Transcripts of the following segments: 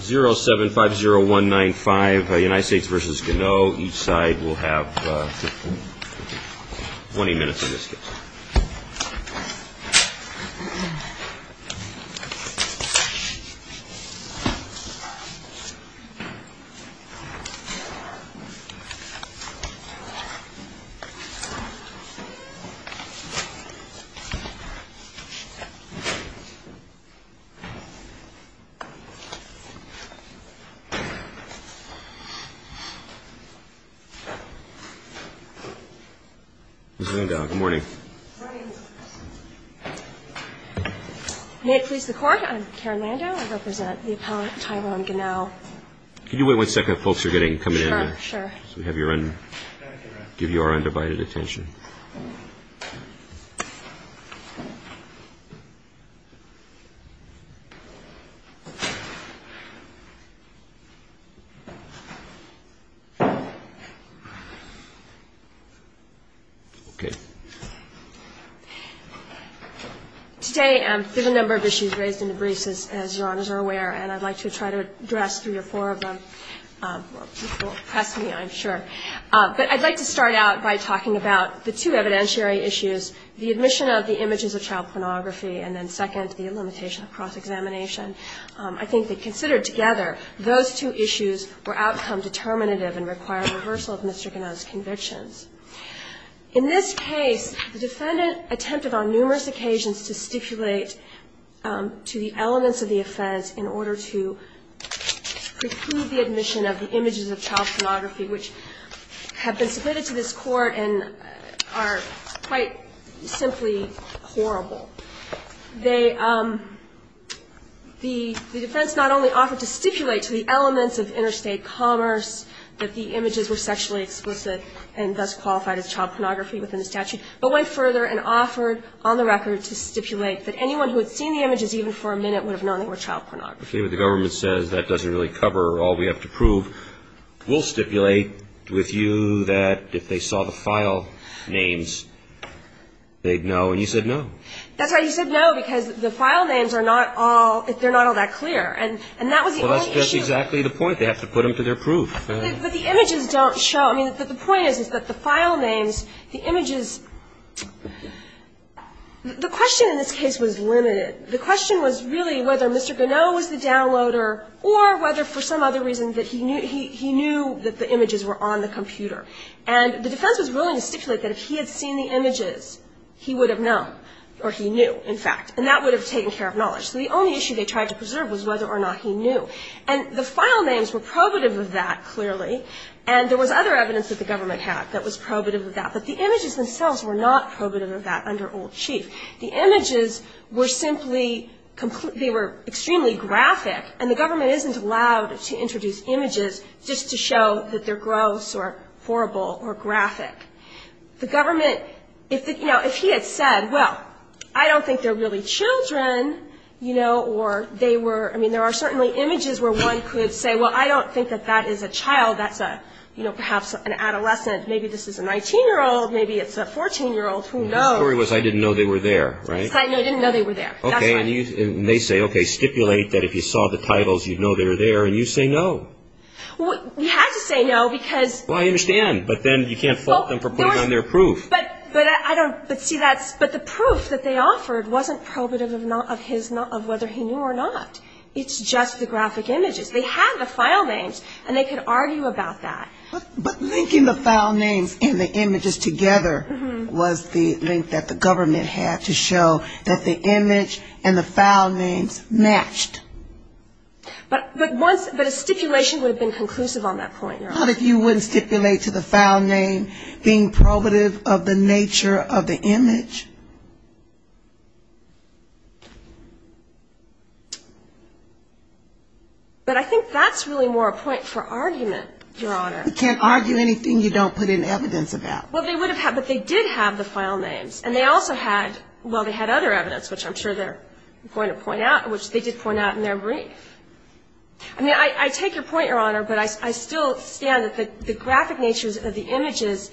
0750195 United States v. Ganoe Each side will have 20 minutes in this case 0750195 United States v. Ganoe Today there are a number of issues raised in the briefs, as Your Honors are aware, and I'd like to try to address three or four of them. You won't press me, I'm sure. But I'd like to start out by talking about the two evidentiary issues, the admission of the images of child pornography and then second, the limitation of cross-examination. I think that considered together, those two issues were outcome-determinative and required reversal of Mr. Ganoe's convictions. In this case, the defendant attempted on numerous occasions to stipulate to the elements of the offense in order to preclude the admission of the images of child pornography, which have been submitted to this Court and are quite simply horrible. They the defense not only offered to stipulate to the elements of interstate commerce that the images were sexually explicit and thus qualified as child pornography within the statute, but went further and offered on the record to stipulate that anyone who had seen the images even for a minute would have known they were child pornography. I see what the government says. That doesn't really cover all we have to prove. We'll stipulate with you that if they saw the file names, they'd know. And you said no. That's why you said no, because the file names are not all, they're not all that clear. And that was the only issue. Well, that's exactly the point. They have to put them to their proof. But the images don't show. I mean, the point is that the file names, the images, the question in this case was limited. The question was really whether Mr. Ganot was the downloader or whether for some other reason that he knew that the images were on the computer. And the defense was willing to stipulate that if he had seen the images, he would have known, or he knew, in fact, and that would have taken care of knowledge. So the only issue they tried to preserve was whether or not he knew. And the file names were probative of that, clearly, and there was other evidence that the government had that was probative of that. But the images themselves were not probative of that under Old Chief. The images were simply completely, they were extremely graphic, and the government isn't allowed to introduce images just to show that they're gross or horrible or graphic. The government, you know, if he had said, well, I don't think they're really children, you know, or they were, I mean, there are certainly images where one could say, well, I don't think that that is a child. That's a, you know, perhaps an adolescent. Maybe this is a 19-year-old. Maybe it's a 14-year-old. Who knows? The story was I didn't know they were there, right? I didn't know they were there. That's right. Okay. And they say, okay, stipulate that if you saw the titles, you'd know they were there. And you say no. Well, we had to say no because… Well, I understand. But then you can't fault them for putting on their proof. But I don't, but see, that's, but the proof that they offered wasn't probative of his, of whether he knew or not. It's just the graphic images. They had the file names, and they could argue about that. But linking the file names and the images together was the link that the government had to show that the image and the file names matched. But once, but a stipulation would have been conclusive on that point. Not if you wouldn't stipulate to the file name being probative of the nature of the image. But I think that's really more a point for argument, Your Honor. You can't argue anything you don't put in evidence about. Well, they would have had, but they did have the file names. And they also had, well, they had other evidence, which I'm sure they're going to point out, which they did point out in their brief. I mean, I take your point, Your Honor, but I still stand that the graphic natures of the images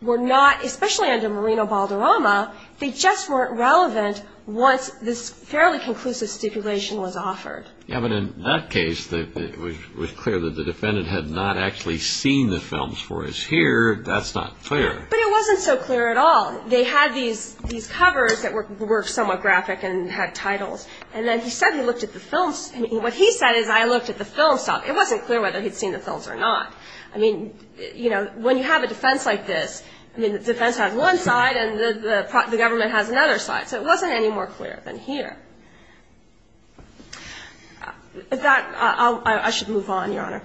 were not, especially under Moreno-Balderrama, they just weren't relevant once this fairly conclusive stipulation was offered. Yeah, but in that case, it was clear that the defendant had not actually seen the films for his ear. That's not clear. But it wasn't so clear at all. They had these covers that were somewhat graphic and had titles. And then he said he looked at the films. What he said is, I looked at the films. It wasn't clear whether he'd seen the films or not. I mean, you know, when you have a defense like this, I mean, the defense has one side and the government has another side. So it wasn't any more clear than here. I should move on, Your Honor.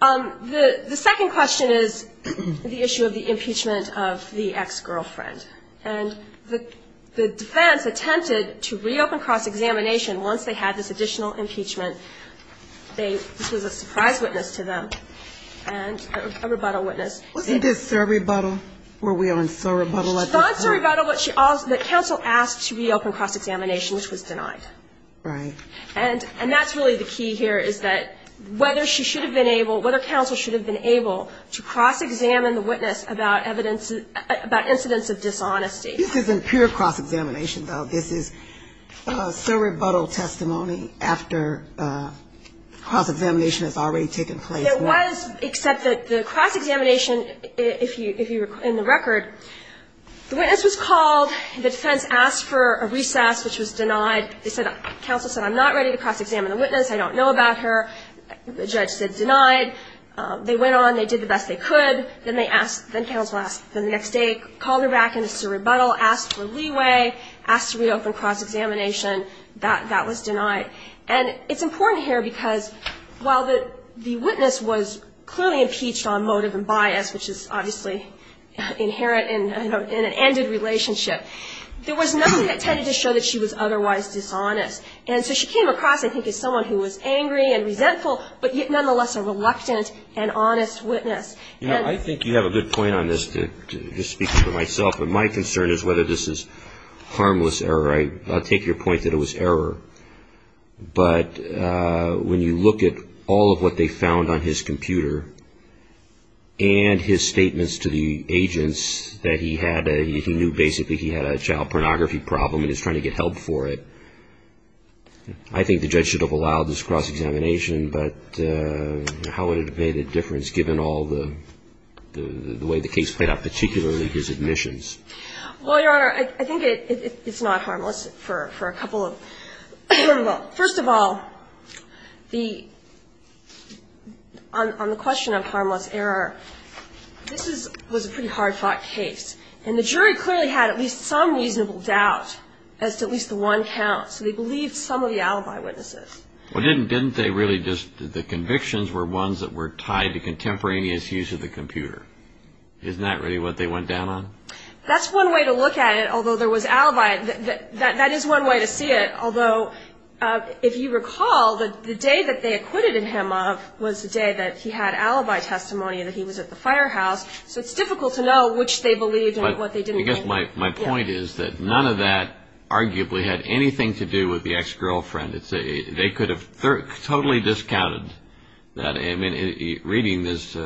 The second question is the issue of the impeachment of the ex-girlfriend. And the defense attempted to reopen cross-examination once they had this additional impeachment. This was a surprise witness to them, and a rebuttal witness. Wasn't this a rebuttal? Were we on surrebuttal at this point? She thought it was a rebuttal, but the counsel asked to reopen cross-examination, which was denied. Right. And that's really the key here, is that whether she should have been able, whether counsel should have been able to cross-examine the witness about evidence, about incidents of dishonesty. This isn't pure cross-examination, though. This is a surrebuttal testimony after cross-examination has already taken place. It was, except that the cross-examination, if you recall in the record, the witness was called, the defense asked for a recess, which was denied. They said, counsel said, I'm not ready to cross-examine the witness. I don't know about her. The judge said denied. They went on. They did the best they could. Then they asked, then counsel asked the next day, called her back in a surrebuttal, asked for leeway, asked to reopen cross-examination. That was denied. And it's important here because while the witness was clearly impeached on motive and bias, which is obviously inherent in an ended relationship, there was nothing that tended to show that she was otherwise dishonest. And so she came across, I think, as someone who was angry and resentful, but yet nonetheless a reluctant and honest witness. I think you have a good point on this, just speaking for myself. My concern is whether this is harmless error. I'll take your point that it was error. But when you look at all of what they found on his computer and his statements to the agents that he had, he knew basically he had a child pornography problem and he was trying to get help for it. I think the judge should have allowed this cross-examination, but how would it have made a difference given all the way the case played out, particularly his admissions? Well, Your Honor, I think it's not harmless for a couple of – well, first of all, on the question of harmless error, this was a pretty hard-fought case. And the jury clearly had at least some reasonable doubt as to at least the one count. So they believed some of the alibi witnesses. Well, didn't they really just – the convictions were ones that were tied to contemporaneous use of the computer. Isn't that really what they went down on? That's one way to look at it, although there was alibi. That is one way to see it, although if you recall, the day that they acquitted him of was the day that he had alibi testimony and that he was at the firehouse. So it's difficult to know which they believed and what they didn't believe. But I guess my point is that none of that arguably had anything to do with the ex-girlfriend. They could have totally discounted that. I mean, reading this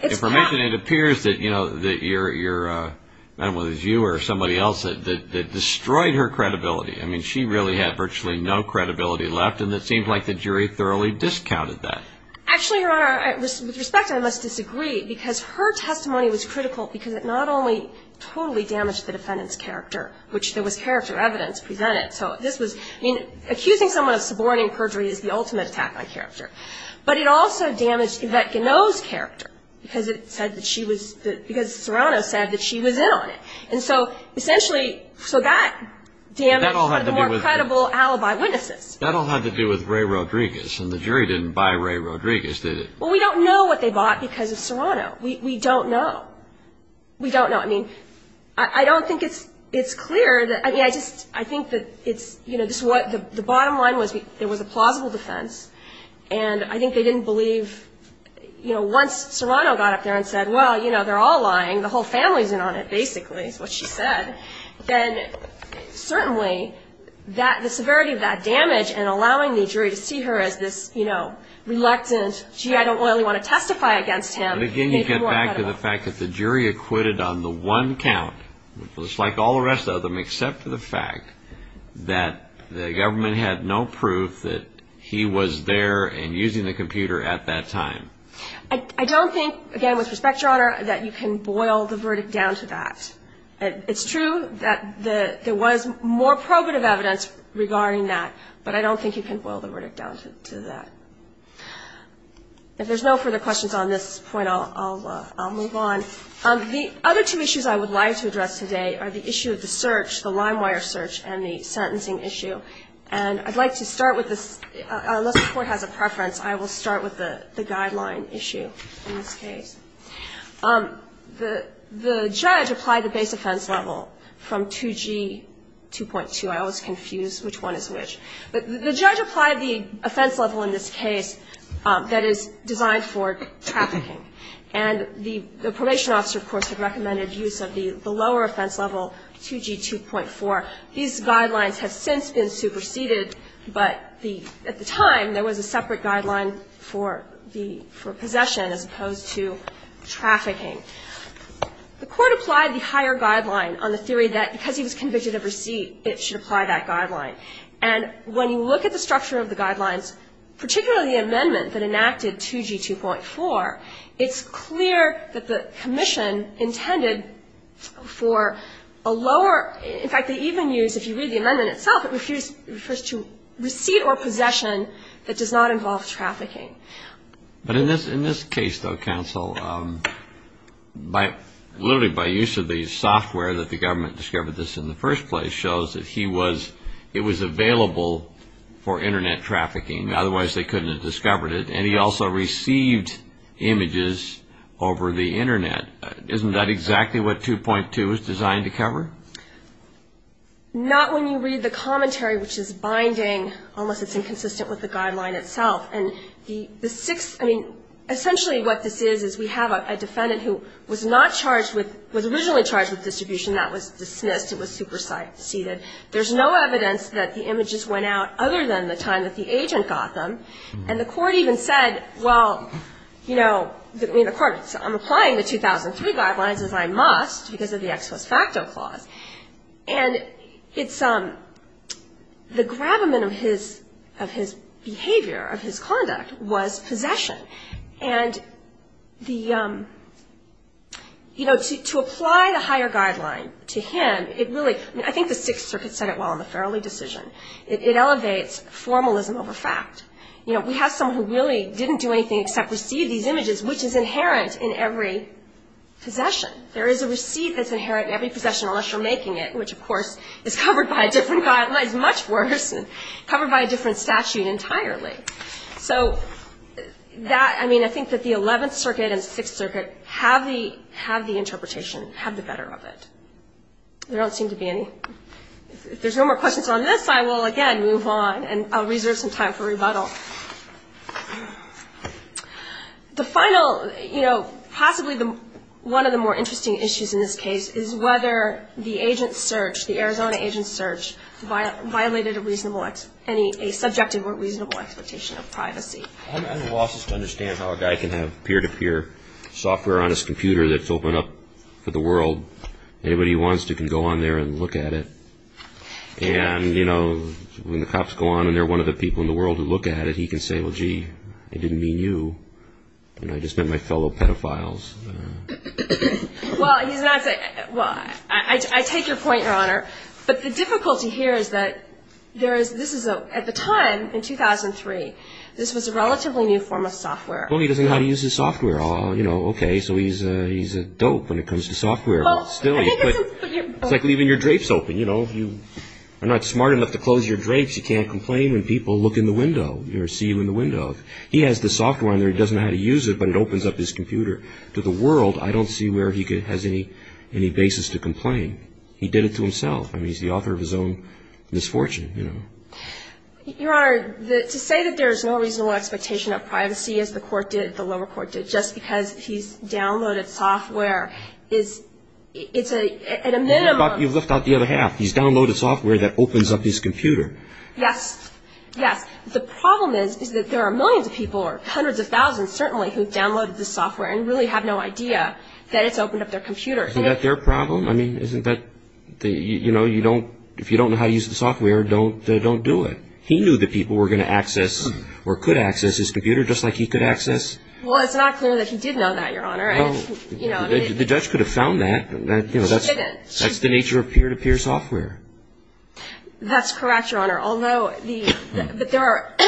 information, it appears that, you know, your – whether it was you or somebody else that destroyed her credibility. I mean, she really had virtually no credibility left, and it seems like the jury thoroughly discounted that. Actually, Your Honor, with respect, I must disagree because her testimony was critical because it not only totally damaged the defendant's character, which there was character evidence presented. So this was – I mean, accusing someone of suborning perjury is the ultimate attack on character. But it also damaged Yvette Ganot's character because it said that she was – because Serrano said that she was in on it. And so essentially – so that damaged the more credible alibi witnesses. That all had to do with Ray Rodriguez, and the jury didn't buy Ray Rodriguez, did it? Well, we don't know what they bought because of Serrano. We don't know. We don't know. I mean, I don't think it's clear that – I mean, I just – I think that it's – you know, this is what – the bottom line was there was a plausible defense, and I think they didn't believe – you know, once Serrano got up there and said, well, you know, they're all lying, the whole family's in on it, basically, is what she said, then certainly the severity of that damage and allowing the jury to see her as this, you know, reluctant, gee, I don't really want to testify against him. But again, you get back to the fact that the jury acquitted on the one count, just like all the rest of them except for the fact that the government had no proof that he was there and using the computer at that time. I don't think, again, with respect, Your Honor, that you can boil the verdict down to that. It's true that there was more probative evidence regarding that, but I don't think you can boil the verdict down to that. If there's no further questions on this point, I'll move on. The other two issues I would like to address today are the issue of the search, the limewire search, and the sentencing issue. And I'd like to start with this – unless the Court has a preference, I will start with the guideline issue in this case. The judge applied the base offense level from 2G 2.2. I always confuse which one is which. The judge applied the offense level in this case that is designed for trafficking. And the probation officer, of course, had recommended use of the lower offense level, 2G 2.4. These guidelines have since been superseded, but at the time there was a separate guideline for possession as opposed to trafficking. The Court applied the higher guideline on the theory that because he was convicted of receipt, it should apply that guideline. And when you look at the structure of the guidelines, particularly the amendment that enacted 2G 2.4, it's clear that the commission intended for a lower – in fact, they even use – if you read the amendment itself, it refers to receipt or possession that does not involve trafficking. But in this case, though, counsel, literally by use of the software that the government discovered this in the first place shows that he was – it was available for Internet trafficking. Otherwise, they couldn't have discovered it. And he also received images over the Internet. Isn't that exactly what 2.2 is designed to cover? Not when you read the commentary, which is binding, unless it's inconsistent with the guideline itself. And the sixth – I mean, essentially what this is, is we have a defendant who was not charged with – was originally charged with distribution. That was dismissed. It was superseded. There's no evidence that the images went out other than the time that the agent got them. And the court even said, well, you know – I mean, the court – I'm applying the 2003 guidelines as I must because of the ex post facto clause. And it's – the gravamen of his behavior, of his conduct, was possession. And the – you know, to apply the higher guideline to him, it really – I mean, I think the Sixth Circuit said it well in the Farrelly decision. It elevates formalism over fact. You know, we have someone who really didn't do anything except receive these images, which is inherent in every possession. There is a receipt that's inherent in every possession, unless you're making it, which, of course, is covered by a different guideline. It's much worse and covered by a different statute entirely. So that – I mean, I think that the Eleventh Circuit and Sixth Circuit have the interpretation, have the better of it. There don't seem to be any – if there's no more questions on this, I will, again, move on. And I'll reserve some time for rebuttal. The final – you know, possibly one of the more interesting issues in this case is whether the agent search, the Arizona agent search, violated a reasonable – any – a subjective or reasonable expectation of privacy. I'm at a loss just to understand how a guy can have peer-to-peer software on his computer that's open up for the world. Anybody who wants to can go on there and look at it. And, you know, when the cops go on and they're one of the people in the world who look at it, he can say, well, gee, it didn't mean you. I just meant my fellow pedophiles. Well, he's not – well, I take your point, Your Honor. But the difficulty here is that there is – this is a – at the time, in 2003, this was a relatively new form of software. Well, he doesn't know how to use his software. You know, okay, so he's a dope when it comes to software. Well, I think it's – It's like leaving your drapes open. You know, you are not smart enough to close your drapes. You can't complain when people look in the window or see you in the window. He has the software on there. He doesn't know how to use it, but it opens up his computer to the world. I don't see where he has any basis to complain. He did it to himself. I mean, he's the author of his own misfortune, you know. Your Honor, to say that there is no reasonable expectation of privacy, as the court did, the lower court did, just because he's downloaded software, is – it's at a minimum – You've left out the other half. He's downloaded software that opens up his computer. Yes. Yes. The problem is, is that there are millions of people, or hundreds of thousands, certainly, who've downloaded the software and really have no idea that it's opened up their computer. Is that their problem? I mean, isn't that – you know, you don't – if you don't know how to use the software, don't do it. He knew that people were going to access, or could access, his computer, just like he could access – Well, it's not clear that he did know that, Your Honor. The judge could have found that. He didn't. That's the nature of peer-to-peer software. That's correct, Your Honor, although the – but there are –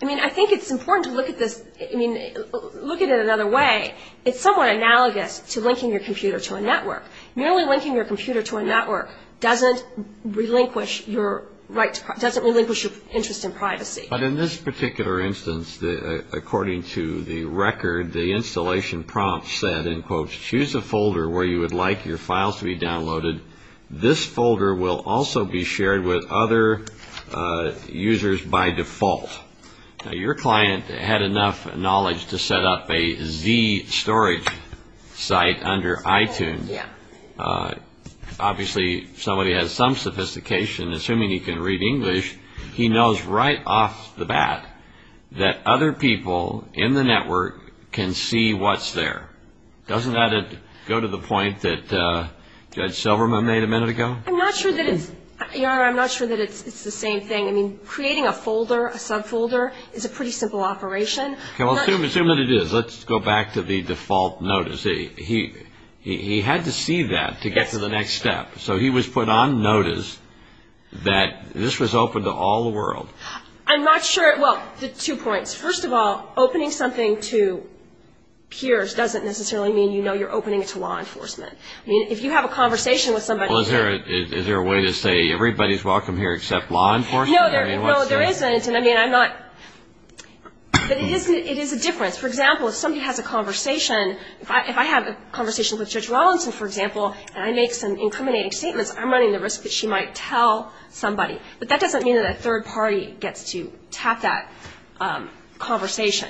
I mean, I think it's important to look at this – I mean, look at it another way. It's somewhat analogous to linking your computer to a network. Merely linking your computer to a network doesn't relinquish your right to – doesn't relinquish your interest in privacy. But in this particular instance, according to the record, the installation prompt said, and quotes, Choose a folder where you would like your files to be downloaded. This folder will also be shared with other users by default. Now, your client had enough knowledge to set up a Z storage site under iTunes. Yeah. Obviously, somebody has some sophistication, assuming he can read English. He knows right off the bat that other people in the network can see what's there. Doesn't that go to the point that Judge Silverman made a minute ago? I'm not sure that it's – Your Honor, I'm not sure that it's the same thing. I mean, creating a folder, a subfolder, is a pretty simple operation. Okay, well, assume that it is. Let's go back to the default notice. He had to see that to get to the next step. So he was put on notice that this was open to all the world. I'm not sure – well, two points. First of all, opening something to peers doesn't necessarily mean you know you're opening it to law enforcement. I mean, if you have a conversation with somebody – Well, is there a way to say everybody's welcome here except law enforcement? No, there isn't. I mean, I'm not – but it is a difference. For example, if somebody has a conversation – if I have a conversation with Judge Rawlinson, for example, and I make some incriminating statements, I'm running the risk that she might tell somebody. But that doesn't mean that a third party gets to tap that conversation.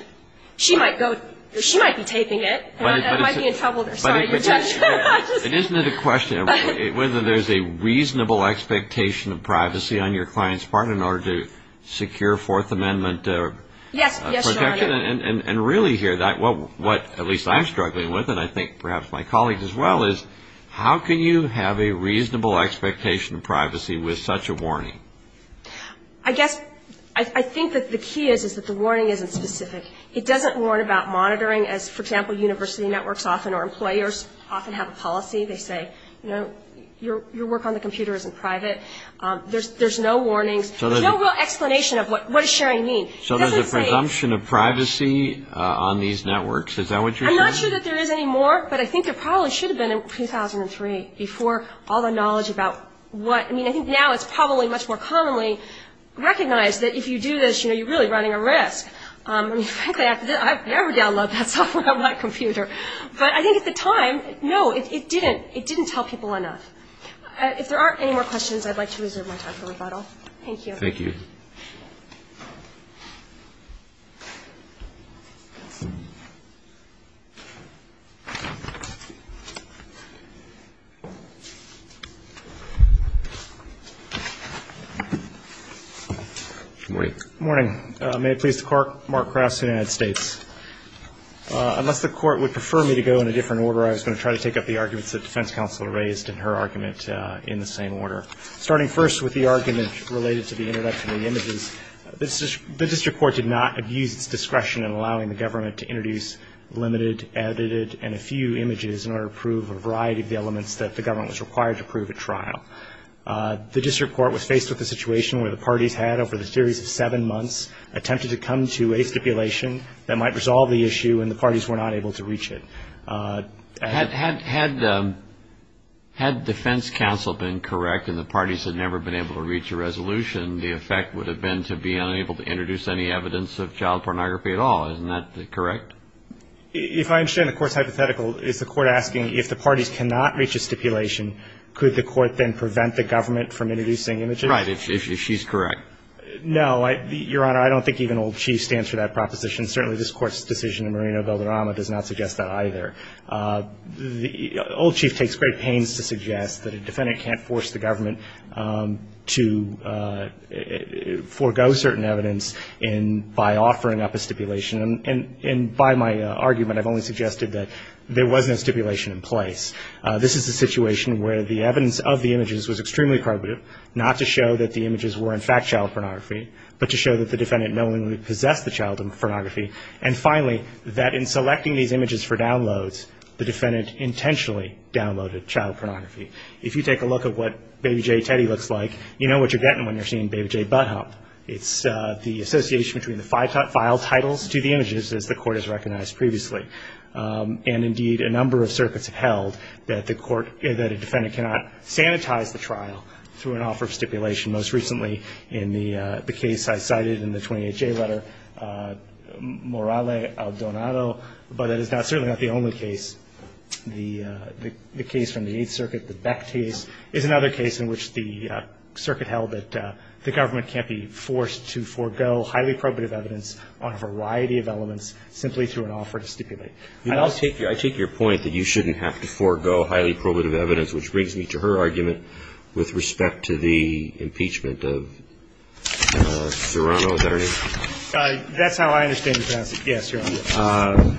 She might be taping it, and I might be in trouble there. Sorry, Your Honor. Isn't it a question of whether there's a reasonable expectation of privacy on your client's part in order to secure Fourth Amendment protection? Yes, Your Honor. And really here, what at least I'm struggling with, and I think perhaps my colleagues as well, is how can you have a reasonable expectation of privacy with such a warning? I guess – I think that the key is that the warning isn't specific. It doesn't warn about monitoring as, for example, university networks often or employers often have a policy. They say, you know, your work on the computer isn't private. There's no warnings. There's no real explanation of what does sharing mean. So there's a presumption of privacy on these networks. Is that what you're saying? I'm not sure that there is anymore, but I think there probably should have been in 2003 before all the knowledge about what – I mean, I think now it's probably much more commonly recognized that if you do this, you know, you're really running a risk. I mean, frankly, I've never downloaded that software on my computer. But I think at the time, no, it didn't. It didn't tell people enough. If there aren't any more questions, I'd like to reserve my time for rebuttal. Thank you. Thank you. Good morning. May it please the Court. Mark Krauss, United States. Unless the Court would prefer me to go in a different order, I was going to try to take up the arguments that Defense Counsel raised and her argument in the same order. Starting first with the argument related to the introduction of the images, the district court did not abuse its discretion in allowing the government to introduce limited, edited, and a few images in order to prove a variety of the elements that the government was required to prove at trial. The district court was faced with a situation where the parties had, over a series of seven months, attempted to come to a stipulation that might resolve the issue, and the parties were not able to reach it. Had Defense Counsel been correct and the parties had never been able to reach a resolution, the effect would have been to be unable to introduce any evidence of child pornography at all. Isn't that correct? If I understand the Court's hypothetical, is the Court asking if the parties cannot reach a stipulation, could the Court then prevent the government from introducing images? Right, if she's correct. No. Your Honor, I don't think even Old Chief stands for that proposition. Certainly, this Court's decision in Moreno-Belderama does not suggest that either. Old Chief takes great pains to suggest that a defendant can't force the government to forego certain evidence by offering up a stipulation. And by my argument, I've only suggested that there was no stipulation in place. This is a situation where the evidence of the images was extremely probative, not to show that the images were in fact child pornography, but to show that the defendant knowingly possessed the child pornography. And finally, that in selecting these images for downloads, the defendant intentionally downloaded child pornography. If you take a look at what Baby J. Teddy looks like, you know what you're getting when you're seeing Baby J. Butt-Hop. It's the association between the file titles to the images, as the Court has recognized previously. And indeed, a number of circuits have held that the court, that a defendant cannot sanitize the trial through an offer of stipulation. Most recently, in the case I cited in the 28-J letter, Morale al Donato, but it is certainly not the only case. The case from the Eighth Circuit, the Beck case, is another case in which the circuit held that the government can't be forced to forego highly probative evidence on a variety of elements simply through an offer to stipulate. I take your point that you shouldn't have to forego highly probative evidence, which brings me to her argument with respect to the impeachment of Serrano. Is that right? That's how I understand your question. Yes, Your Honor.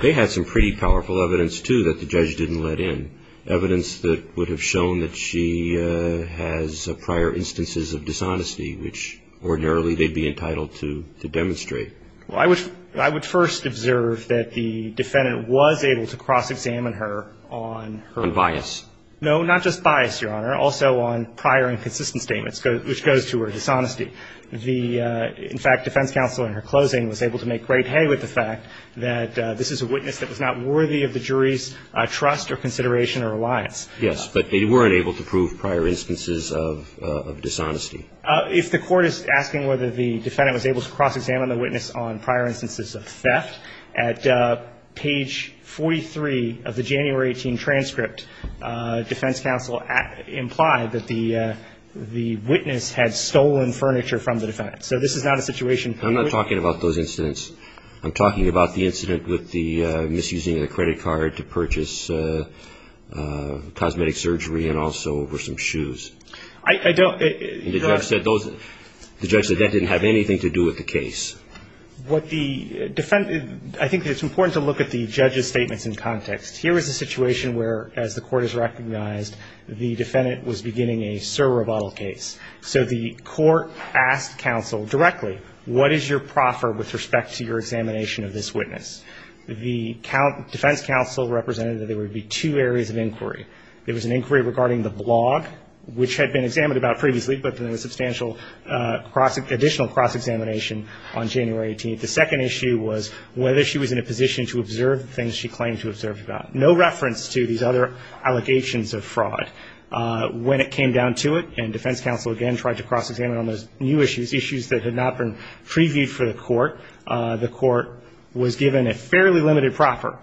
They had some pretty powerful evidence, too, that the judge didn't let in, evidence that would have shown that she has prior instances of dishonesty, which ordinarily they'd be entitled to demonstrate. Well, I would first observe that the defendant was able to cross-examine her on her own. On bias. No, not just bias, Your Honor. Also on prior inconsistent statements, which goes to her dishonesty. In fact, defense counsel in her closing was able to make great hay with the fact that this is a witness that was not worthy of the jury's trust or consideration or reliance. Yes, but they weren't able to prove prior instances of dishonesty. If the court is asking whether the defendant was able to cross-examine the witness on prior instances of theft, at page 43 of the January 18 transcript, defense counsel implied that the witness had stolen furniture from the defendant. So this is not a situation. I'm not talking about those incidents. I'm talking about the incident with the misusing of the credit card to purchase cosmetic surgery and also for some shoes. I don't. The judge said that didn't have anything to do with the case. I think it's important to look at the judge's statements in context. Here is a situation where, as the court has recognized, the defendant was beginning a sir or a bottle case. So the court asked counsel directly, what is your proffer with respect to your examination of this witness? The defense counsel represented that there would be two areas of inquiry. There was an inquiry regarding the blog, which had been examined about previously, but there was substantial additional cross-examination on January 18th. The second issue was whether she was in a position to observe the things she claimed to observe about. No reference to these other allegations of fraud. When it came down to it and defense counsel again tried to cross-examine on those new issues, issues that had not been previewed for the court, the court was given a fairly limited proffer,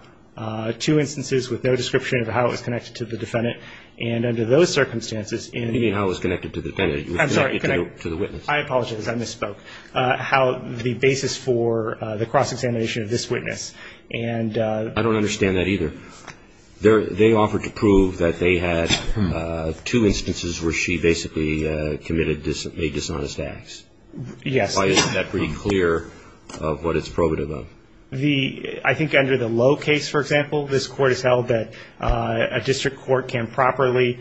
two instances with no description of how it was connected to the defendant. And under those circumstances, in the end. You mean how it was connected to the defendant. I'm sorry. To the witness. I apologize. I misspoke. How the basis for the cross-examination of this witness. And. I don't understand that either. They offered to prove that they had two instances where she basically committed a dishonest act. Yes. Why isn't that pretty clear of what it's probative of? I think under the low case, for example, this Court has held that a district court can properly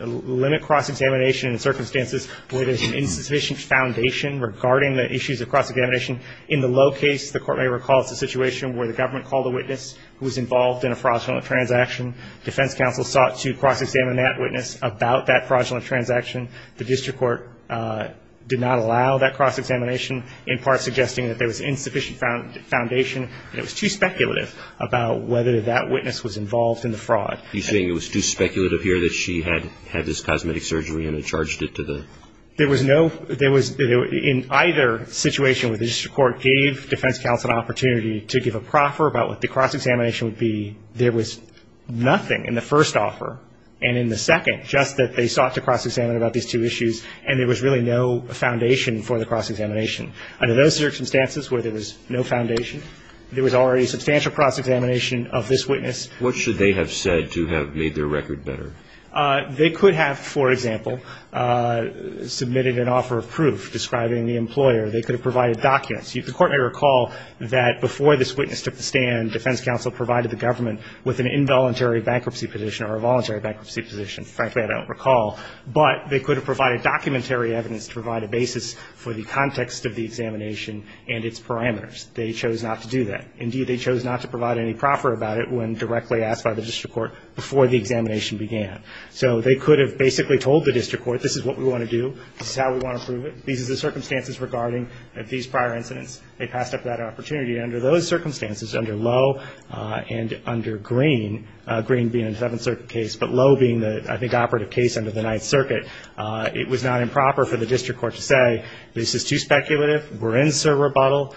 limit cross-examination in circumstances where there's an insufficient foundation regarding the issues of cross-examination. In the low case, the Court may recall it's a situation where the government called a witness who was involved in a fraudulent transaction. Defense counsel sought to cross-examine that witness about that fraudulent transaction. The district court did not allow that cross-examination, in part suggesting that there was insufficient foundation and it was too speculative about whether that witness was involved in the fraud. You're saying it was too speculative here that she had had this cosmetic surgery and had charged it to the. There was no, there was, in either situation where the district court gave defense counsel an opportunity to give a proffer about what the cross-examination would be, there was nothing in the first offer and in the second, just that they sought to cross-examine about these two issues and there was really no foundation for the cross-examination. Under those circumstances where there was no foundation, there was already substantial cross-examination of this witness. What should they have said to have made their record better? They could have, for example, submitted an offer of proof describing the employer. They could have provided documents. The Court may recall that before this witness took the stand, defense counsel provided the government with an involuntary bankruptcy position or a voluntary bankruptcy position. Frankly, I don't recall. But they could have provided documentary evidence to provide a basis for the context of the examination and its parameters. They chose not to do that. Indeed, they chose not to provide any proffer about it when directly asked by the district court before the examination began. So they could have basically told the district court, this is what we want to do. This is how we want to prove it. These are the circumstances regarding these prior incidents. They passed up that opportunity. Under those circumstances, under Lowe and under Green, Green being a Seventh Circuit case, but Lowe being the, I think, operative case under the Ninth Circuit, it was not improper for the district court to say, this is too speculative. We're in, sir, rebuttal.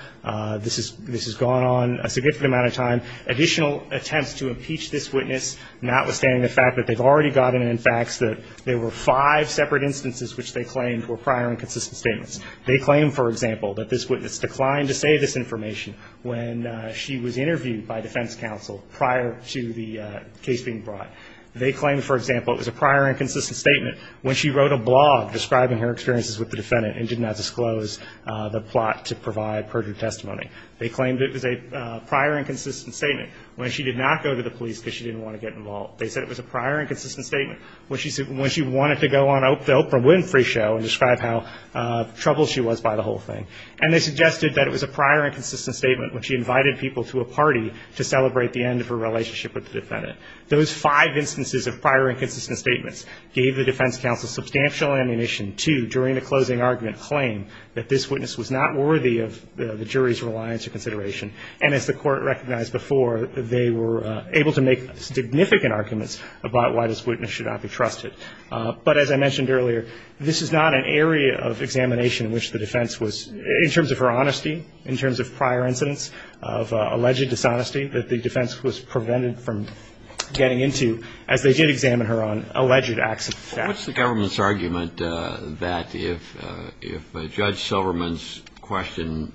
This has gone on a significant amount of time. Additional attempts to impeach this witness, notwithstanding the fact that they've already gotten facts that there were five separate instances which they claimed were prior inconsistent statements. They claim, for example, that this witness declined to say this information when she was interviewed by defense counsel prior to the case being brought. They claim, for example, it was a prior inconsistent statement when she wrote a blog describing her experiences with the defendant and did not disclose the plot to provide perjured testimony. They claimed it was a prior inconsistent statement when she did not go to the police because she didn't want to get involved. They said it was a prior inconsistent statement when she wanted to go on the Oprah Winfrey show and describe how troubled she was by the whole thing. And they suggested that it was a prior inconsistent statement when she invited people to a party to celebrate the end of her relationship with the defendant. Those five instances of prior inconsistent statements gave the defense counsel substantial ammunition to, during the closing argument, claim that this witness was not worthy of the jury's reliance or consideration. And as the Court recognized before, they were able to make significant arguments about why this witness should not be trusted. But as I mentioned earlier, this is not an area of examination in which the defense was, in terms of her honesty, in terms of prior incidents of alleged dishonesty that the defense was prevented from getting into, as they did examine her on alleged accidents. What's the government's argument that if Judge Silverman's question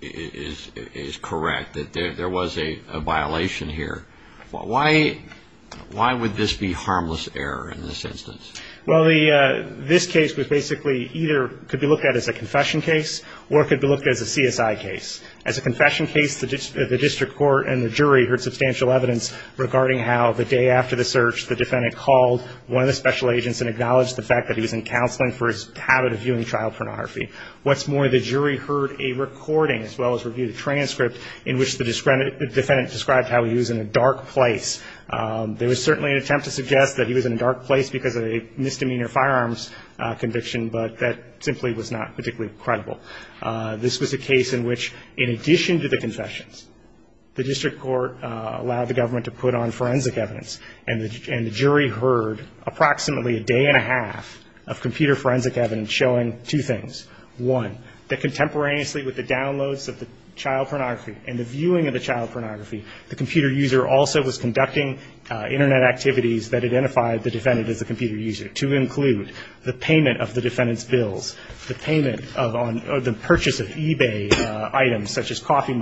is correct, that there was a violation here? Why would this be harmless error in this instance? Well, this case was basically either could be looked at as a confession case or it could be looked at as a CSI case. As a confession case, the district court and the jury heard substantial evidence regarding how, the day after the search, the defendant called one of the special agents and acknowledged the fact that he was in counseling for his habit of viewing trial pornography. What's more, the jury heard a recording, as well as reviewed a transcript, in which the defendant described how he was in a dark place. There was certainly an attempt to suggest that he was in a dark place because of a misdemeanor firearms conviction, but that simply was not particularly credible. This was a case in which, in addition to the confessions, the district court allowed the government to put on forensic evidence, and the jury heard approximately a day and a half of computer forensic evidence showing two things. One, that contemporaneously with the downloads of the child pornography and the viewing of the child pornography, the computer user also was conducting Internet activities that identified the defendant as a computer user, to include the payment of the defendant's bills, the purchase of eBay items such as coffee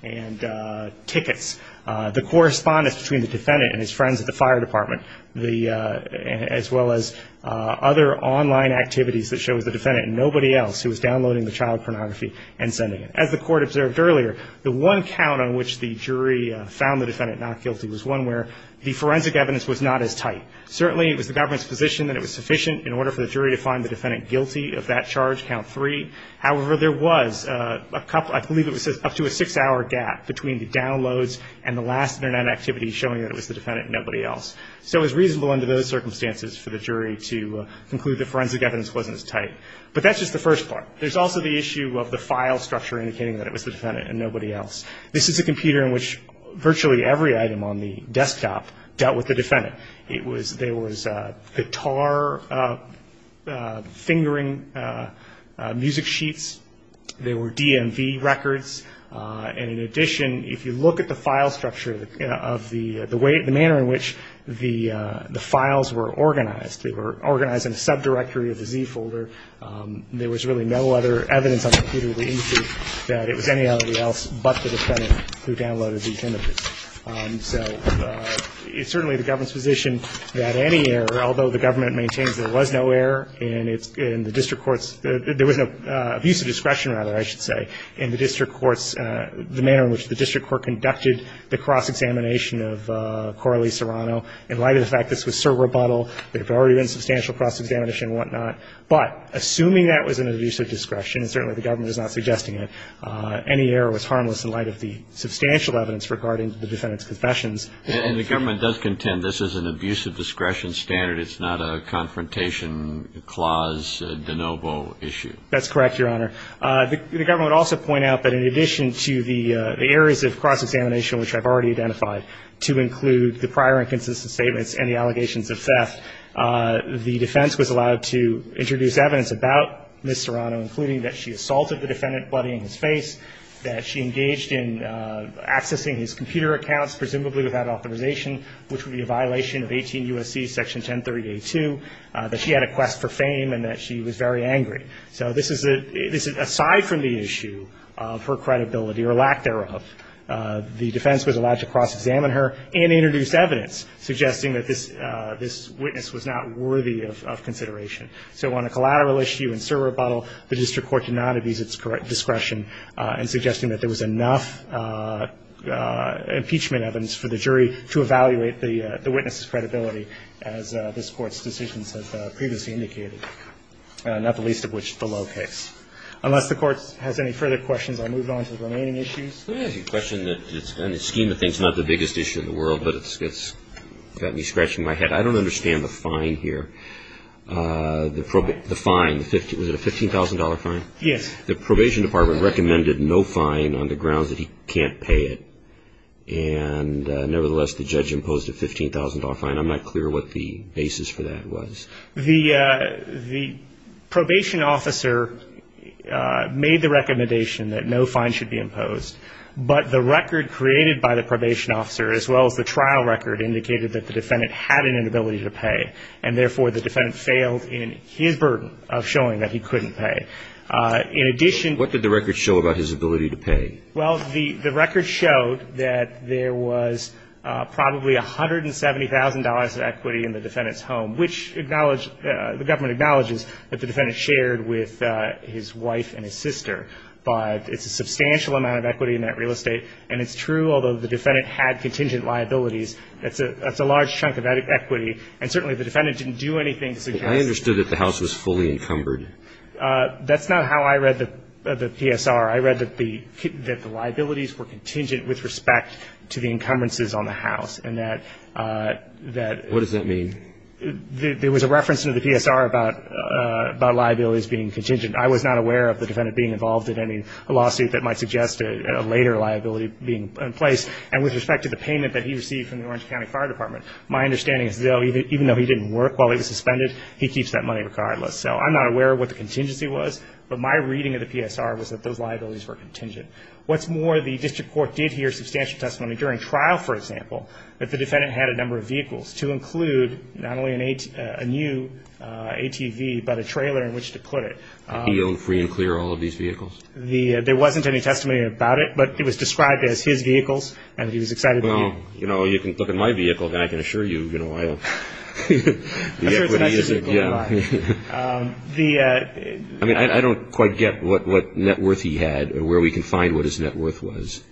the correspondence between the defendant and his friends at the fire department, as well as other online activities that showed the defendant and nobody else who was downloading the child pornography and sending it. As the court observed earlier, the one count on which the jury found the defendant not guilty was one where the forensic evidence was not as tight. Certainly, it was the government's position that it was sufficient in order for the jury to find the defendant guilty of that charge, count three. However, there was, I believe it was up to a six-hour gap between the downloads and the last Internet activity showing that it was the defendant and nobody else. So it was reasonable under those circumstances for the jury to conclude that forensic evidence wasn't as tight. But that's just the first part. There's also the issue of the file structure indicating that it was the defendant and nobody else. This is a computer in which virtually every item on the desktop dealt with the defendant. There was guitar fingering music sheets. There were DMV records. And in addition, if you look at the file structure of the way, the manner in which the files were organized, they were organized in a subdirectory of the Z folder. There was really no other evidence on the computer that indicated that it was anybody else but the defendant who downloaded these images. So it's certainly the government's position that any error, although the government maintains there was no error in the district court's, there was no abuse of discretion, rather, I should say, in the district court's, the manner in which the district court conducted the cross-examination of Coralie Serrano. In light of the fact this was Sir Rebuttal, there had already been substantial cross-examination and whatnot. But assuming that was an abuse of discretion, and certainly the government is not suggesting it, any error was harmless in light of the substantial evidence regarding the defendant's confessions. And the government does contend this is an abuse of discretion standard. It's not a confrontation clause de novo issue. That's correct, Your Honor. The government would also point out that in addition to the errors of cross-examination, which I've already identified, to include the prior inconsistent statements and the allegations of theft, the defense was allowed to introduce evidence about Ms. Serrano, including that she assaulted the defendant bloody in his face, that she engaged in accessing his computer accounts, presumably without authorization, which would be a violation of 18 U.S.C. Section 1030-A2, that she had a quest for fame, and that she was very angry. So this is a side from the issue of her credibility or lack thereof. The defense was allowed to cross-examine her and introduce evidence suggesting that this witness was not worthy of consideration. So on a collateral issue in Sir Rebuttal, the district court did not abuse its discretion in suggesting that there was enough impeachment evidence for the jury to evaluate the witness's credibility, as this Court's decisions have previously indicated. Not the least of which is the Lowe case. Unless the Court has any further questions, I'll move on to the remaining issues. Let me ask you a question that, in the scheme of things, is not the biggest issue in the world, but it's got me scratching my head. I don't understand the fine here. The fine, was it a $15,000 fine? Yes. The probation department recommended no fine on the grounds that he can't pay it, and nevertheless, the judge imposed a $15,000 fine. I'm not clear what the basis for that was. The probation officer made the recommendation that no fine should be imposed, but the record created by the probation officer, as well as the trial record, indicated that the defendant had an inability to pay, and therefore the defendant failed in his burden of showing that he couldn't pay. In addition to that, What did the record show about his ability to pay? Well, the record showed that there was probably $170,000 of equity in the defendant's home, which the government acknowledges that the defendant shared with his wife and his sister. But it's a substantial amount of equity in that real estate, and it's true, although the defendant had contingent liabilities, that's a large chunk of equity, and certainly the defendant didn't do anything to suggest that. I understood that the house was fully encumbered. That's not how I read the PSR. I read that the liabilities were contingent with respect to the encumbrances on the house, and that that What does that mean? There was a reference in the PSR about liabilities being contingent. I was not aware of the defendant being involved in any lawsuit that might suggest a later liability being in place, and with respect to the payment that he received from the Orange County Fire Department, my understanding is even though he didn't work while he was suspended, he keeps that money regardless. So I'm not aware of what the contingency was, but my reading of the PSR was that those liabilities were contingent. What's more, the district court did hear substantial testimony during trial, for example, that the defendant had a number of vehicles to include not only a new ATV, but a trailer in which to put it. He owned free and clear all of these vehicles? There wasn't any testimony about it, but it was described as his vehicles, and he was excited to use them. Well, you know, you can look at my vehicle, and I can assure you, you know, I don't quite get what net worth he had, or where we can find what his net worth was.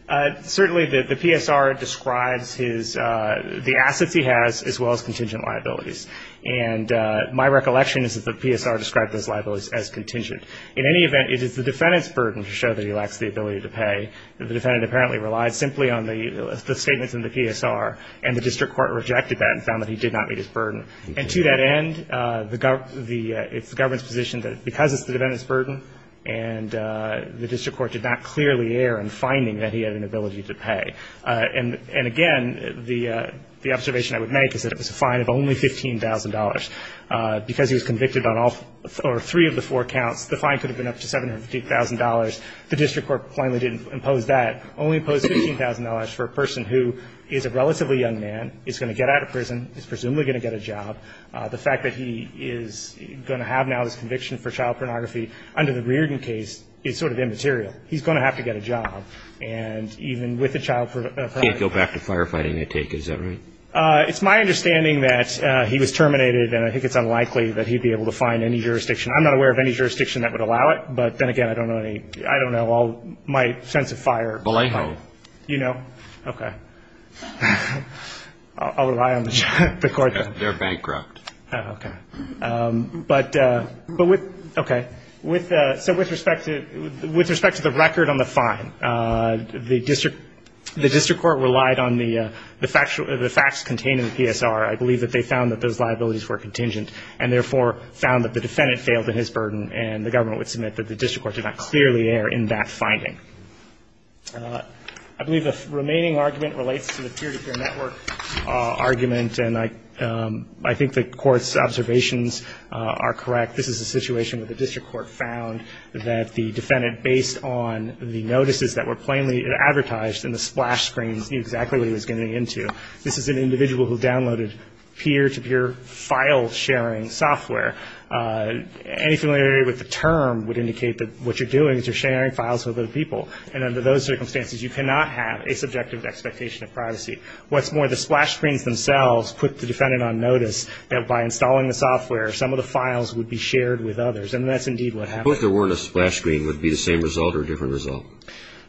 Certainly the PSR describes the assets he has as well as contingent liabilities. And my recollection is that the PSR described those liabilities as contingent. In any event, it is the defendant's burden to show that he lacks the ability to pay. The defendant apparently relied simply on the statements in the PSR, and the district court rejected that and found that he did not meet his burden. And to that end, it's the government's position that because it's the defendant's burden and the district court did not clearly err in finding that he had an ability to pay. And, again, the observation I would make is that it was a fine of only $15,000. Because he was convicted on all or three of the four counts, the fine could have been up to $750,000. The district court plainly didn't impose that, only imposed $15,000 for a person who is a relatively young man, is going to get out of prison, is presumably going to get a job. The fact that he is going to have now this conviction for child pornography under the Reardon case is sort of immaterial. He's going to have to get a job. And even with a child ---- He can't go back to firefighting, I take it. Is that right? It's my understanding that he was terminated, and I think it's unlikely that he'd be able to find any jurisdiction. I'm not aware of any jurisdiction that would allow it. But, then again, I don't know any. I don't know. My sense of fire ---- Balejo. You know? Okay. I'll rely on the court. They're bankrupt. Okay. But with ---- Okay. So with respect to the record on the fine, the district court relied on the facts contained in the PSR. I believe that they found that those liabilities were contingent, and therefore found that the defendant failed in his burden, and the government would submit that the district court did not clearly err in that finding. I believe the remaining argument relates to the peer-to-peer network argument, and I think the court's observations are correct. This is a situation where the district court found that the defendant, based on the notices that were plainly advertised and the splash screens, knew exactly what he was getting into. This is an individual who downloaded peer-to-peer file-sharing software. Anything related with the term would indicate that what you're doing is you're sharing files with other people. I think what's more, the splash screens themselves put the defendant on notice that by installing the software, some of the files would be shared with others, and that's indeed what happened. What if there weren't a splash screen? Would it be the same result or a different result?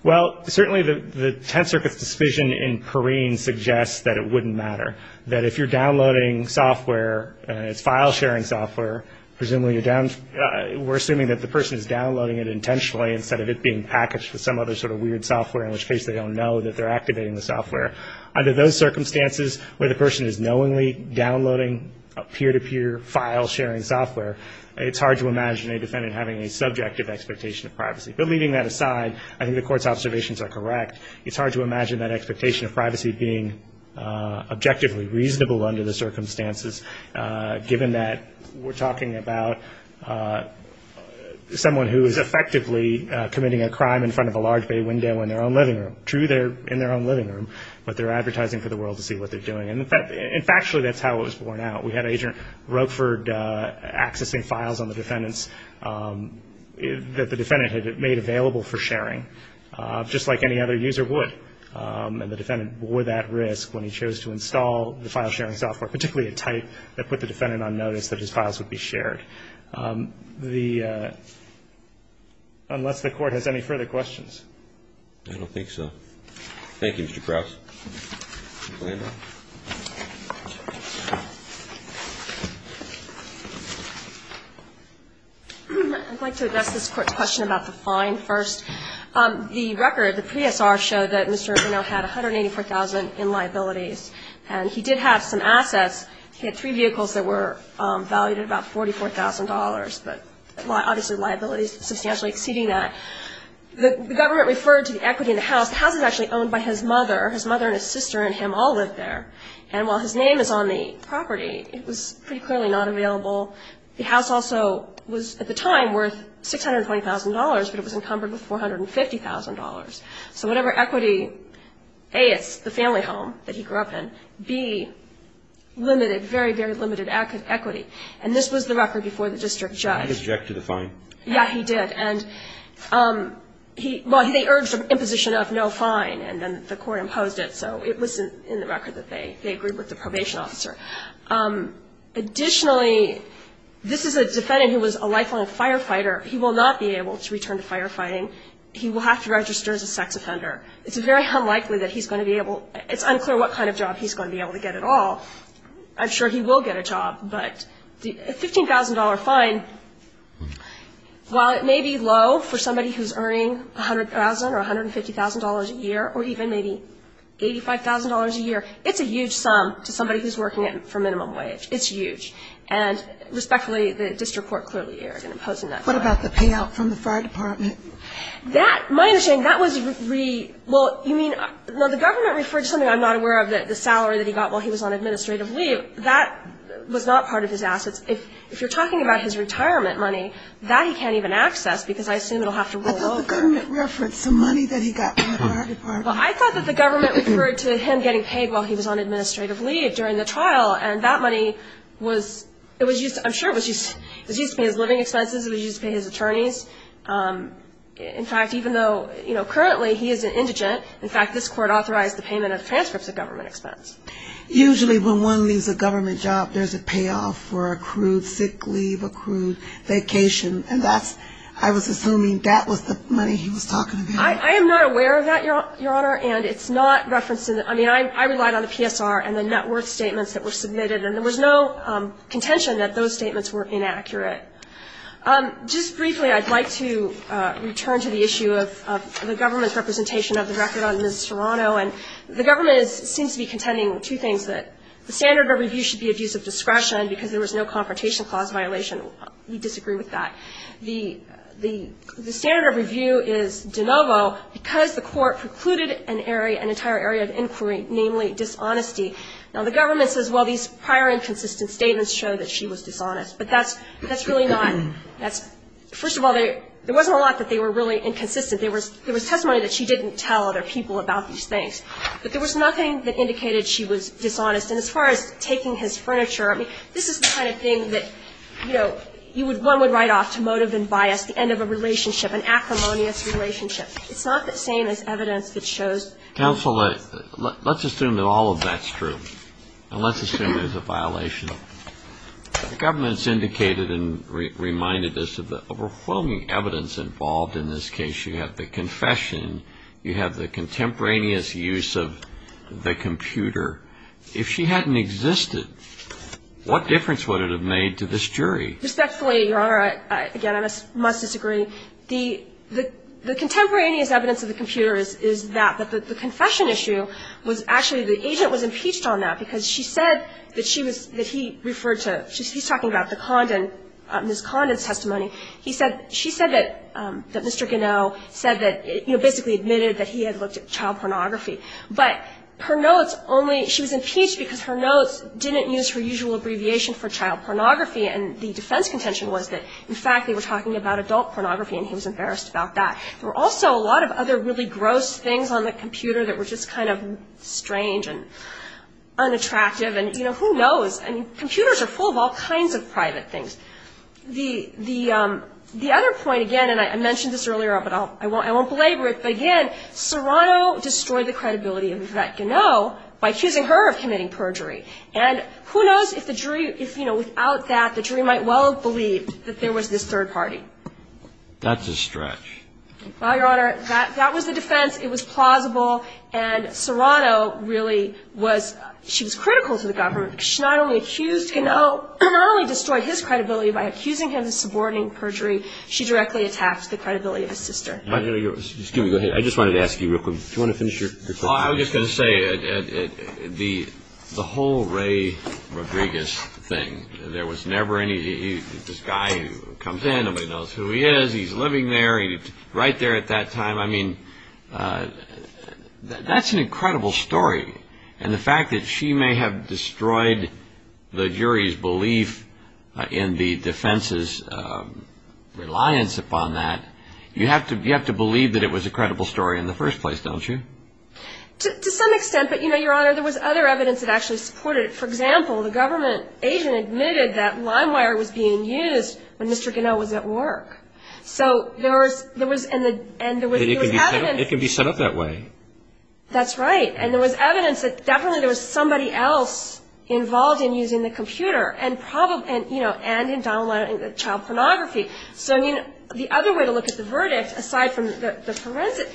Well, certainly the Tenth Circuit's decision in Perrine suggests that it wouldn't matter, that if you're downloading software, it's file-sharing software, presumably you're down ---- we're assuming that the person is downloading it intentionally instead of it being packaged with some other sort of weird software, in which case they don't know that they're activating the software. Under those circumstances where the person is knowingly downloading peer-to-peer file-sharing software, it's hard to imagine a defendant having a subjective expectation of privacy. But leaving that aside, I think the Court's observations are correct. It's hard to imagine that expectation of privacy being objectively reasonable under the circumstances, given that we're talking about someone who is effectively committing a crime in front of a large bay window in their own living room. True, they're in their own living room, but they're advertising for the world to see what they're doing. And factually, that's how it was borne out. We had Agent Roquefort accessing files on the defendants that the defendant had made available for sharing, just like any other user would. And the defendant bore that risk when he chose to install the file-sharing software, particularly a type that put the defendant on notice that his files would be shared. So I think the Court's observations are correct, unless the Court has any further questions. I don't think so. Thank you, Mr. Krause. Ms. Landau? I'd like to address this Court's question about the fine first. The record, the PSR, showed that Mr. Arvino had $184,000 in liabilities. And he did have some assets. He had three vehicles that were valued at about $44,000, but obviously liabilities substantially exceeding that. The government referred to the equity in the house. The house is actually owned by his mother. His mother and his sister and him all lived there. And while his name is on the property, it was pretty clearly not available. The house also was, at the time, worth $620,000, but it was encumbered with $450,000. So whatever equity, A, it's the family home that he grew up in. B, limited, very, very limited equity. And this was the record before the district judge. He objected to the fine. Yeah, he did. And he – well, they urged an imposition of no fine, and then the Court imposed it. So it was in the record that they agreed with the probation officer. Additionally, this is a defendant who was a lifelong firefighter. He will not be able to return to firefighting. He will have to register as a sex offender. It's very unlikely that he's going to be able – it's unclear what kind of job he's going to be able to get at all. I'm sure he will get a job. But a $15,000 fine, while it may be low for somebody who's earning $100,000 or $150,000 a year or even maybe $85,000 a year, it's a huge sum to somebody who's working for minimum wage. It's huge. And respectfully, the district court clearly erred in imposing that fine. What about the payout from the fire department? That – my understanding, that was – well, you mean – no, the government referred to something I'm not aware of, the salary that he got while he was on administrative leave. That was not part of his assets. If you're talking about his retirement money, that he can't even access because I assume it will have to roll over. I thought the government referred to money that he got from the fire department. Well, I thought that the government referred to him getting paid while he was on administrative leave during the trial, and that money was – it was used – to pay his attorneys. In fact, even though, you know, currently he is an indigent, in fact, this court authorized the payment of transcripts at government expense. Usually when one leaves a government job, there's a payoff for accrued sick leave, accrued vacation, and that's – I was assuming that was the money he was talking about. I am not aware of that, Your Honor, and it's not referenced in – I mean, I relied on the PSR and the net worth statements that were submitted, and there was no contention that those statements were inaccurate. Just briefly, I'd like to return to the issue of the government's representation of the record on Ms. Serrano. And the government is – seems to be contending two things, that the standard of review should be abuse of discretion because there was no confrontation clause violation. We disagree with that. The standard of review is de novo because the court precluded an area – an entire area of inquiry, namely dishonesty. Now, the government says, well, these prior inconsistent statements show that she was dishonest. But that's really not – that's – first of all, there wasn't a lot that they were really inconsistent. There was testimony that she didn't tell other people about these things. But there was nothing that indicated she was dishonest. And as far as taking his furniture, I mean, this is the kind of thing that, you know, one would write off to motive and bias, the end of a relationship, an acrimonious relationship. It's not the same as evidence that shows – Counsel, let's assume that all of that's true, and let's assume there's a violation. The government's indicated and reminded us of the overwhelming evidence involved in this case. You have the confession. You have the contemporaneous use of the computer. If she hadn't existed, what difference would it have made to this jury? Respectfully, Your Honor, again, I must disagree. The contemporaneous evidence of the computer is that. But the confession issue was actually – the agent was impeached on that because she said that she was – that he referred to – he's talking about the Condon – Ms. Condon's testimony. He said – she said that Mr. Gannell said that – you know, basically admitted that he had looked at child pornography. But her notes only – she was impeached because her notes didn't use her usual abbreviation for child pornography, and the defense contention was that, in fact, they were talking about adult pornography, and he was embarrassed about that. There were also a lot of other really gross things on the computer that were just kind of strange and unattractive, and, you know, who knows? I mean, computers are full of all kinds of private things. The – the other point, again, and I mentioned this earlier, but I won't belabor it, but again, Serrano destroyed the credibility of Yvette Gannell by accusing her of committing perjury. And who knows if the jury – if, you know, without that, the jury might well have believed that there was this third party. That's a stretch. Well, Your Honor, that was the defense. It was plausible, and Serrano really was – she was critical to the government. She not only accused Gannell – not only destroyed his credibility by accusing him of subordinating perjury, she directly attacked the credibility of his sister. Excuse me, go ahead. I just wanted to ask you real quick – do you want to finish your – Well, I was just going to say, the whole Ray Rodriguez thing, there was never any – this guy comes in, nobody knows who he is, he's living there, he's right there at that time. I mean, that's an incredible story. And the fact that she may have destroyed the jury's belief in the defense's reliance upon that, you have to believe that it was a credible story in the first place, don't you? To some extent, but, you know, Your Honor, there was other evidence that actually supported it. For example, the government agent admitted that lime wire was being used when Mr. Gannell was at work. So there was – and there was evidence – It can be set up that way. That's right. And there was evidence that definitely there was somebody else involved in using the computer, and in downloading the child pornography. So, I mean, the other way to look at the verdict, aside from the forensic,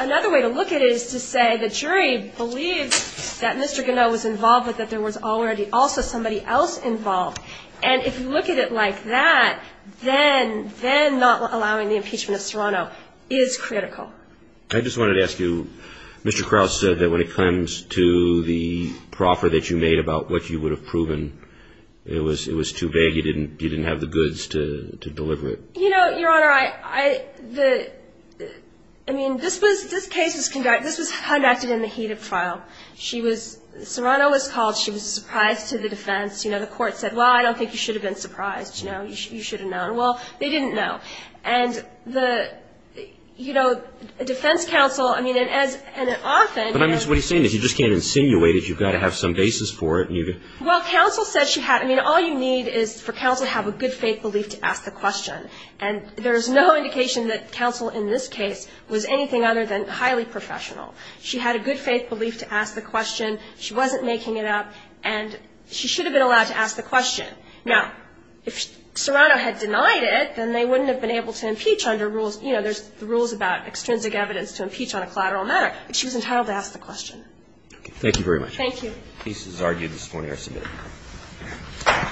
another way to look at it is to say the jury believed that Mr. Gannell was involved, but that there was already also somebody else involved. And if you look at it like that, then not allowing the impeachment of Serrano is critical. I just wanted to ask you, Mr. Krause said that when it comes to the proffer that you made about what you would have proven, it was too vague. You didn't have the goods to deliver it. You know, Your Honor, I mean, this case was conducted in the heat of trial. She was – Serrano was called. She was surprised to the defense. You know, the court said, well, I don't think you should have been surprised. You know, you should have known. Well, they didn't know. And the – you know, defense counsel – I mean, and as – and often – But I mean, what he's saying is you just can't insinuate it. You've got to have some basis for it. Well, counsel said she had – I mean, all you need is for counsel to have a good faith belief to ask the question. And there's no indication that counsel in this case was anything other than highly professional. She had a good faith belief to ask the question. She wasn't making it up. And she should have been allowed to ask the question. Now, if Serrano had denied it, then they wouldn't have been able to impeach under rules – you know, there's the rules about extrinsic evidence to impeach on a collateral matter. But she was entitled to ask the question. Thank you very much. Thank you. The case is argued. This is the morning I submitted it.